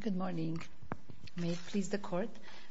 Good morning. May it please the court,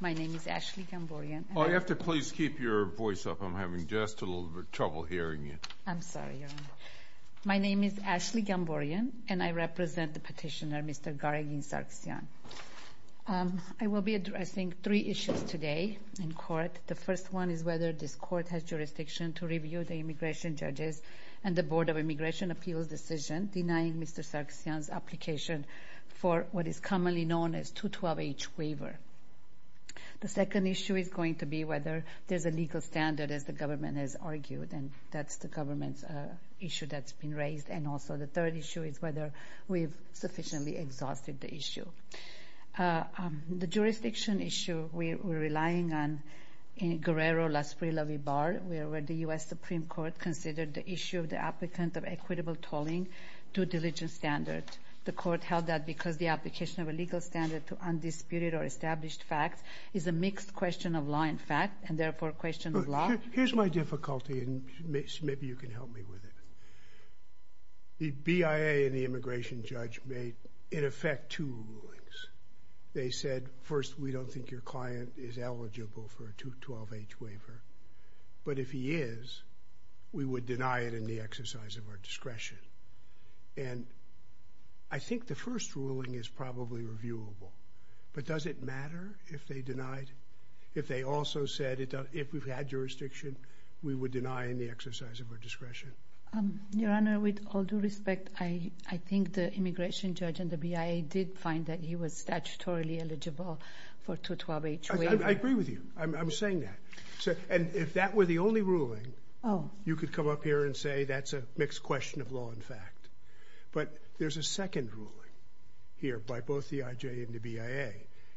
my name is Ashley Gamborian. Oh, you have to please keep your voice up. I'm having just a little bit of trouble hearing you. I'm sorry, Your Honor. My name is Ashley Gamborian, and I represent the petitioner, Mr. Garegin Sargsyan. I will be addressing three issues today in court. The first one is whether this court has jurisdiction to review the immigration judges and the Board of Immigration Appeals decision denying Mr. Sargsyan's application for what is commonly known as 212H waiver. The second issue is going to be whether there's a legal standard, as the government has argued, and that's the government's issue that's been raised. And also the third issue is whether we've sufficiently exhausted the issue. The jurisdiction issue we're relying on in Guerrero-Las Prillas v. Barr, where the U.S. Supreme Court considered the issue of the applicant of equitable tolling due diligence standard. The court held that because the application of a legal standard to undisputed or established facts is a mixed question of law and fact, and therefore a question of law. Here's my difficulty, and maybe you can help me with it. The BIA and the immigration judge made, in effect, two rulings. They said, first, we don't think your client is eligible for a 212H waiver, but if he is, we would deny it in the exercise of our discretion. And I think the first ruling is probably reviewable, but does it matter if they denied it? If they also said, if we've had jurisdiction, we would deny in the exercise of our discretion. Your Honor, with all due respect, I think the immigration judge and the BIA did find that he was statutorily eligible for a 212H waiver. I agree with you. I'm saying that. And if that were the only ruling, you could come up here and say that's a mixed question of law and fact. But there's a second ruling here by both the IJ and the BIA,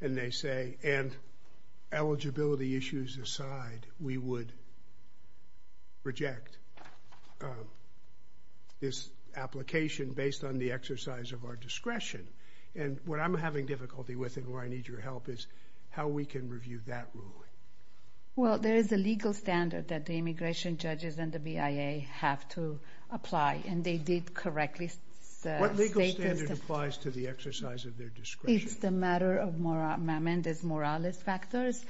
and they say, and eligibility issues aside, we would reject this application based on the exercise of our discretion. And what I'm having difficulty with and where I need your help is how we can review that ruling. Well, there is a legal standard that the immigration judges and the BIA have to apply, and they did correctly state this. What legal standard applies to the exercise of their discretion? It's the matter of Mehrendiz-Morales factors.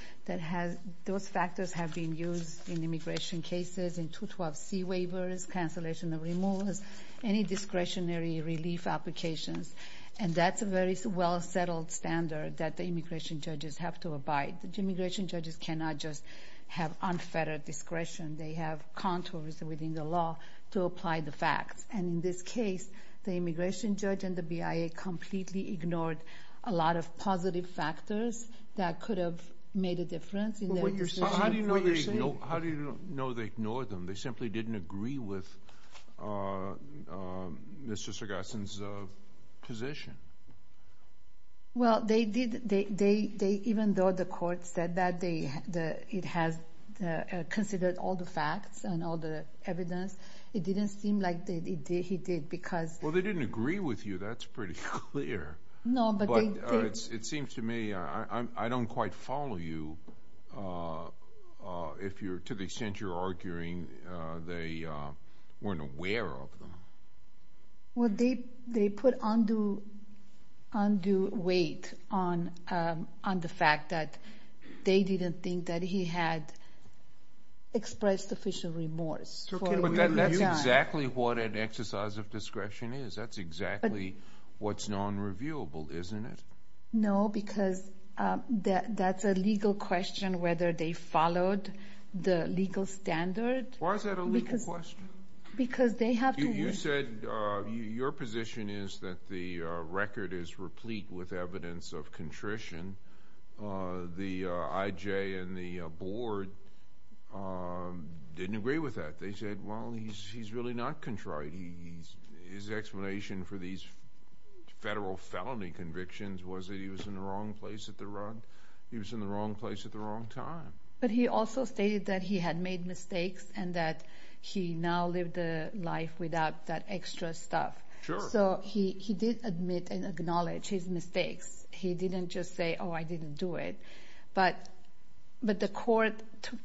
Those factors have been used in immigration cases, in 212C waivers, cancellation of removals, any discretionary relief applications. And that's a very well-settled standard that the immigration judges have to abide. The immigration judges cannot just have unfettered discretion. They have contours within the law to apply the facts. And in this case, the immigration judge and the BIA completely ignored a lot of positive factors that could have made a difference in their decision. How do you know they ignored them? They simply didn't agree with Mr. Sargassan's position. Well, they did. Even though the court said that it has considered all the facts and all the evidence, it didn't seem like he did because... Well, they didn't agree with you. That's pretty clear. No, but they did. It seems to me I don't quite follow you to the extent you're arguing they weren't aware of them. Well, they put undue weight on the fact that they didn't think that he had expressed sufficient remorse. But that's exactly what an exercise of discretion is. That's exactly what's non-reviewable, isn't it? No, because that's a legal question whether they followed the legal standard. Why is that a legal question? Because they have to... You said your position is that the record is replete with evidence of contrition. The IJ and the board didn't agree with that. They said, well, he's really not contrite. His explanation for these federal felony convictions was that he was in the wrong place at the wrong time. But he also stated that he had made mistakes and that he now lived a life without that extra stuff. Sure. So he did admit and acknowledge his mistakes. He didn't just say, oh, I didn't do it. But the court took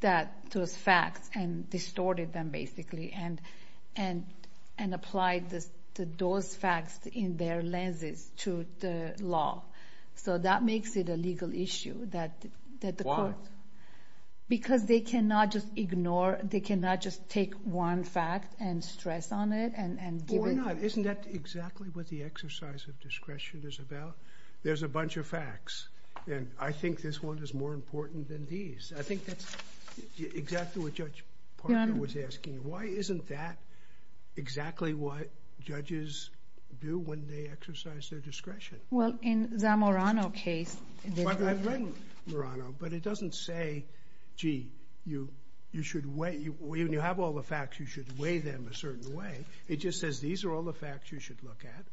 those facts and distorted them basically and applied those facts in their lenses to the law. So that makes it a legal issue that the court... Because they cannot just ignore, they cannot just take one fact and stress on it and give it... Isn't that exactly what the exercise of discretion is about? There's a bunch of facts. And I think this one is more important than these. I think that's exactly what Judge Parker was asking. Why isn't that exactly what judges do when they exercise their discretion? Well, in Zamorano's case... I've read Zamorano, but it doesn't say, gee, you should weigh... When you have all the facts, you should weigh them a certain way. It just says these are all the facts you should look at.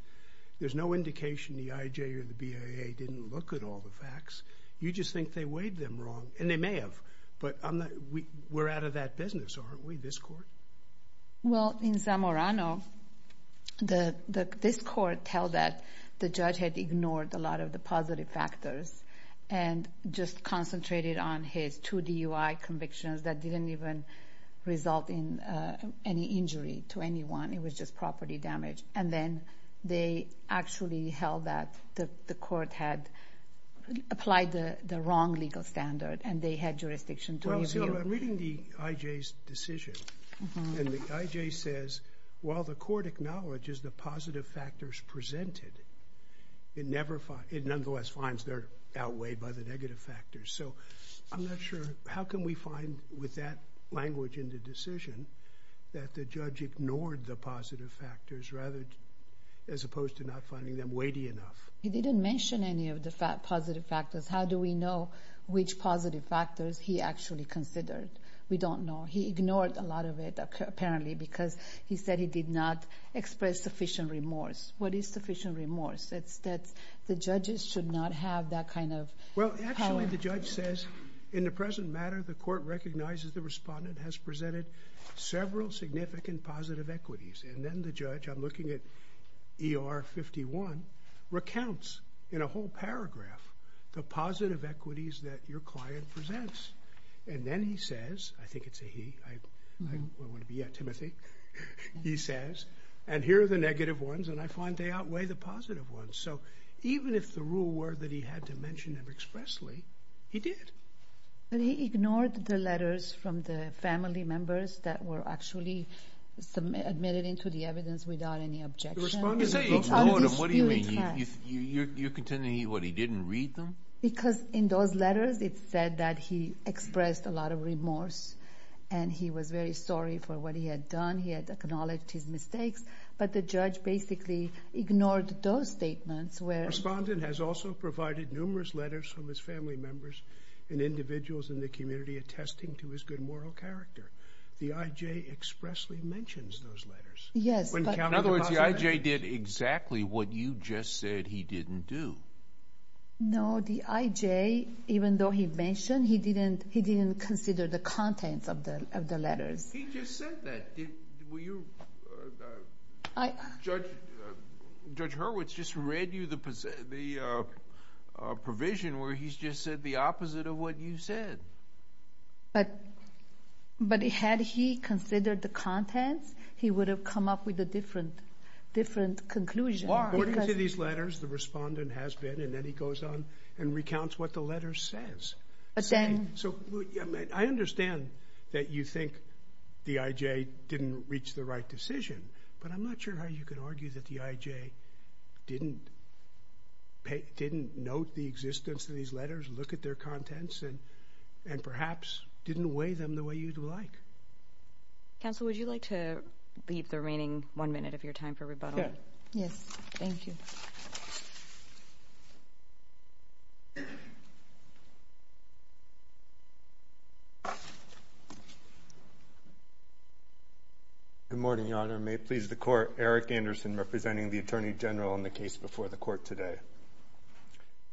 There's no indication the IJ or the BIA didn't look at all the facts. You just think they weighed them wrong. And they may have. But we're out of that business, aren't we, this court? Well, in Zamorano, this court held that the judge had ignored a lot of the positive factors and just concentrated on his two DUI convictions that didn't even result in any injury to anyone. It was just property damage. And then they actually held that the court had applied the wrong legal standard and they had jurisdiction to review. Well, I'm reading the IJ's decision. And the IJ says, while the court acknowledges the positive factors presented, it nonetheless finds they're outweighed by the negative factors. So I'm not sure. How can we find, with that language in the decision, that the judge ignored the positive factors as opposed to not finding them weighty enough? He didn't mention any of the positive factors. How do we know which positive factors he actually considered? We don't know. He ignored a lot of it, apparently, because he said he did not express sufficient remorse. What is sufficient remorse? It's that the judges should not have that kind of power. Well, actually, the judge says, in the present matter, the court recognizes the respondent has presented several significant positive equities. And then the judge, I'm looking at ER 51, recounts in a whole paragraph the positive equities that your client presents. And then he says, I think it's a he. I want it to be a Timothy. He says, and here are the negative ones, and I find they outweigh the positive ones. So even if the rule were that he had to mention them expressly, he did. He ignored the letters from the family members that were actually submitted into the evidence without any objection. What do you mean? You're contending he didn't read them? Because in those letters, it said that he expressed a lot of remorse, and he was very sorry for what he had done. He had acknowledged his mistakes. But the judge basically ignored those statements. Respondent has also provided numerous letters from his family members and individuals in the community attesting to his good moral character. The IJ expressly mentions those letters. Yes. In other words, the IJ did exactly what you just said he didn't do. No, the IJ, even though he mentioned, he didn't consider the contents of the letters. He just said that. Judge Hurwitz just read you the provision where he just said the opposite of what you said. But had he considered the contents, he would have come up with a different conclusion. According to these letters, the respondent has been, and then he goes on and recounts what the letter says. I understand that you think the IJ didn't reach the right decision, but I'm not sure how you can argue that the IJ didn't note the existence of these letters, look at their contents, and perhaps didn't weigh them the way you'd like. Counsel, would you like to leave the remaining one minute of your time for rebuttal? Yes. Thank you. Good morning, Your Honor. May it please the Court, Eric Anderson representing the Attorney General on the case before the Court today.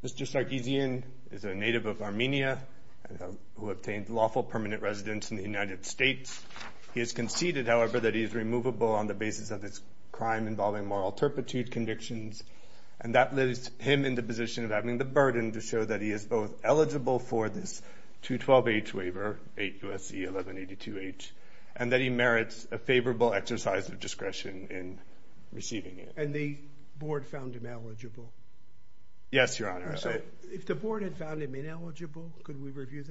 Mr. Sargsyan is a native of Armenia who obtained lawful permanent residence in the United States. He has conceded, however, that he is removable on the basis of his crime involving moral turpitude convictions, and that leaves him in the position of having the burden to show that he is both eligible for this 212H waiver, 8 U.S.C. 1182H, and that he merits a favorable exercise of discretion in receiving it. And the Board found him eligible? Yes, Your Honor. If the Board had found him ineligible, could we review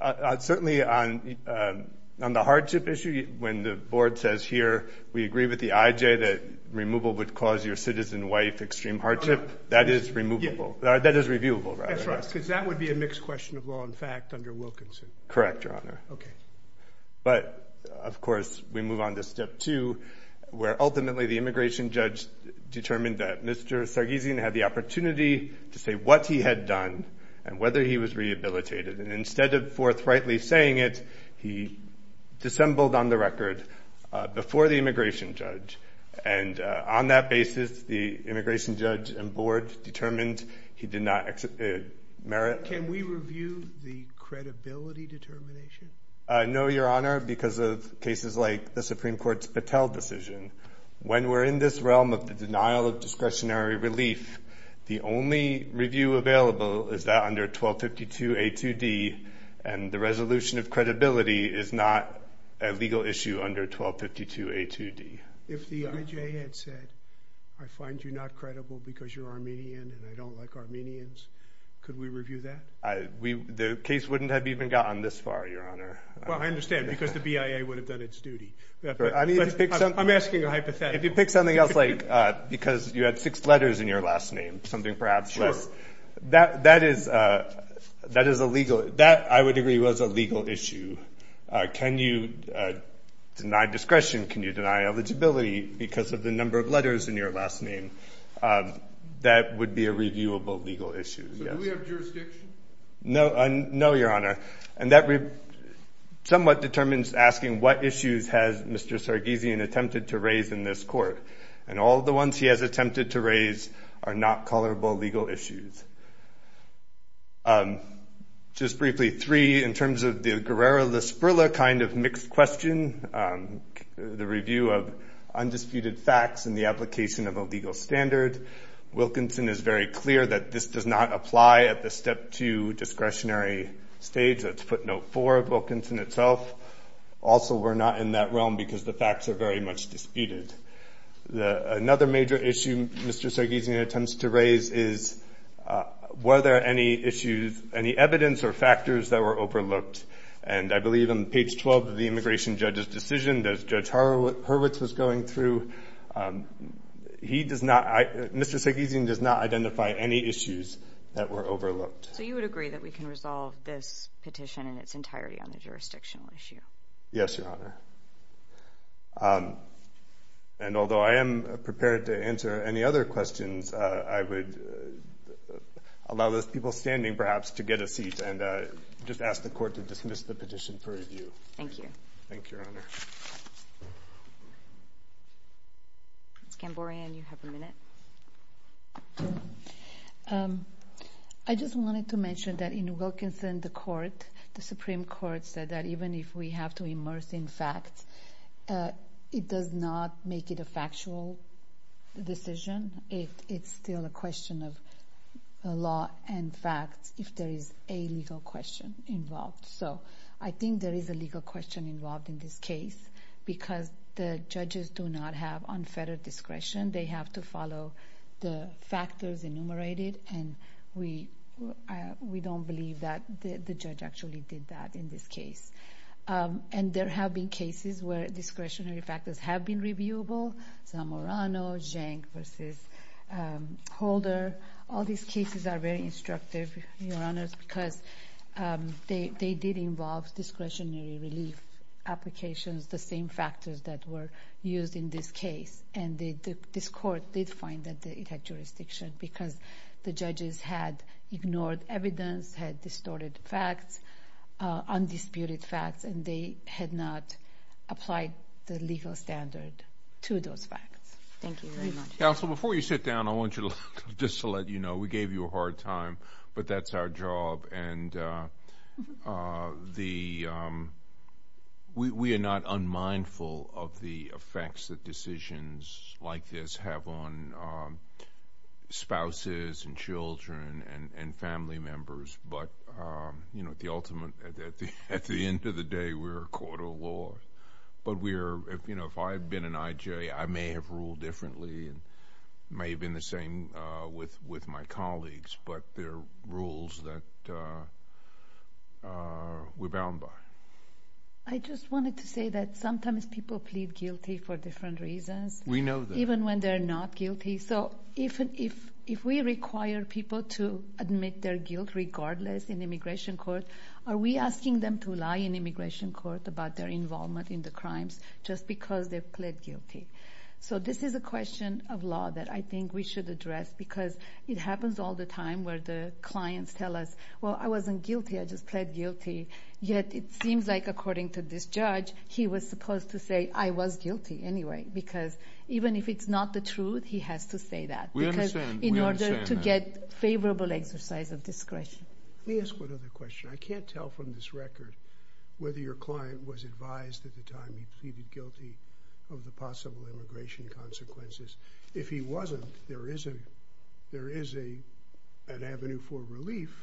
that? Certainly on the hardship issue, when the Board says here, we agree with the IJ that removal would cause your citizen wife extreme hardship, that is removable, that is reviewable rather. Because that would be a mixed question of law and fact under Wilkinson. Correct, Your Honor. But, of course, we move on to Step 2, where ultimately the immigration judge determined that Mr. Sargsyan had the opportunity to say what he had done and whether he was rehabilitated, and instead of forthrightly saying it, he dissembled on the record before the immigration judge, and on that basis the immigration judge and Board determined he did not merit. Can we review the credibility determination? No, Your Honor, because of cases like the Supreme Court's Patel decision. When we're in this realm of the denial of discretionary relief, the only review available is that under 1252A2D, and the resolution of credibility is not a legal issue under 1252A2D. If the IJ had said, I find you not credible because you're Armenian and I don't like Armenians, could we review that? The case wouldn't have even gotten this far, Your Honor. Well, I understand, because the BIA would have done its duty. I'm asking a hypothetical. If you pick something else, like, because you had six letters in your last name, something perhaps less, that is a legal issue. Can you deny discretion? Can you deny eligibility because of the number of letters in your last name? That would be a reviewable legal issue. So do we have jurisdiction? No, Your Honor, and that somewhat determines asking what issues has Mr. Sargsyan attempted to raise in this court, and all the ones he has attempted to raise are not colorable legal issues. Just briefly, three, in terms of the Guerrero-LaSbrilla kind of mixed question, the review of undisputed facts and the application of a legal standard, Wilkinson is very clear that this does not apply at the step two discretionary stage. That's footnote four of Wilkinson itself. Also, we're not in that realm because the facts are very much disputed. Another major issue Mr. Sargsyan attempts to raise is were there any issues, any evidence or factors that were overlooked, and I believe on page 12 of the immigration judge's decision, as Judge Hurwitz was going through, Mr. Sargsyan does not identify any issues that were overlooked. So you would agree that we can resolve this petition in its entirety on the jurisdictional issue? Yes, Your Honor. And although I am prepared to answer any other questions, I would allow those people standing perhaps to get a seat and just ask the court to dismiss the petition for review. Thank you. Thank you, Your Honor. Ms. Gamborian, you have a minute. I just wanted to mention that in Wilkinson, the Supreme Court said that even if we have to immerse in facts, it does not make it a factual decision. It's still a question of law and facts if there is a legal question involved. So I think there is a legal question involved in this case because the judges do not have unfettered discretion. They have to follow the factors enumerated, and we don't believe that the judge actually did that in this case. And there have been cases where discretionary factors have been reviewable, Zamorano, Genk versus Holder. All these cases are very instructive, Your Honors, because they did involve discretionary relief applications, the same factors that were used in this case. And this court did find that it had jurisdiction because the judges had ignored evidence, had distorted facts, undisputed facts, and they had not applied the legal standard to those facts. Thank you very much. Counsel, before you sit down, I want you to look, just to let you know, we gave you a hard time, but that's our job. And we are not unmindful of the effects that decisions like this have on spouses and children and family members, but at the end of the day, we're a court of law. But if I had been an I.J., I may have ruled differently and may have been the same with my colleagues, but there are rules that we're bound by. I just wanted to say that sometimes people plead guilty for different reasons. We know that. Even when they're not guilty. So if we require people to admit their guilt regardless in immigration court, are we asking them to lie in immigration court about their involvement in the crimes just because they plead guilty? So this is a question of law that I think we should address because it happens all the time where the clients tell us, well, I wasn't guilty, I just plead guilty. Yet, it seems like according to this judge, he was supposed to say, I was guilty anyway because even if it's not the truth, he has to say that. We understand. In order to get favorable exercise of discretion. Let me ask one other question. I can't tell from this record whether your client was advised at the time he pleaded guilty of the possible immigration consequences. If he wasn't, there is an avenue for relief,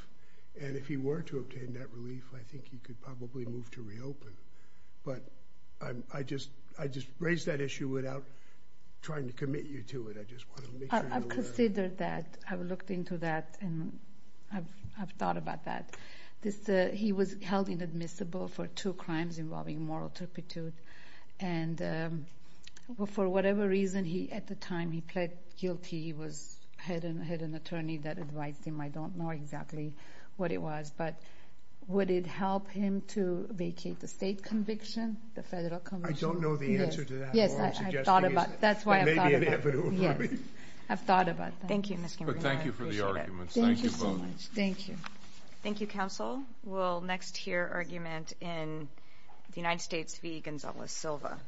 and if he were to obtain that relief, I think he could probably move to reopen. But I just raised that issue without trying to commit you to it. I just want to make sure you're aware. I considered that. I looked into that and I've thought about that. He was held inadmissible for two crimes involving moral turpitude. And for whatever reason, at the time he pleaded guilty, he had an attorney that advised him. I don't know exactly what it was. But would it help him to vacate the state conviction, the federal conviction? I don't know the answer to that. Yes, I've thought about it. That's why I've thought about it. It may be an avenue for relief. I've thought about it. Thank you, Ms. Kimbrough. Thank you for the arguments. Thank you so much. Thank you. Thank you, counsel. We'll next hear argument in the United States v. Gonzales-Silva.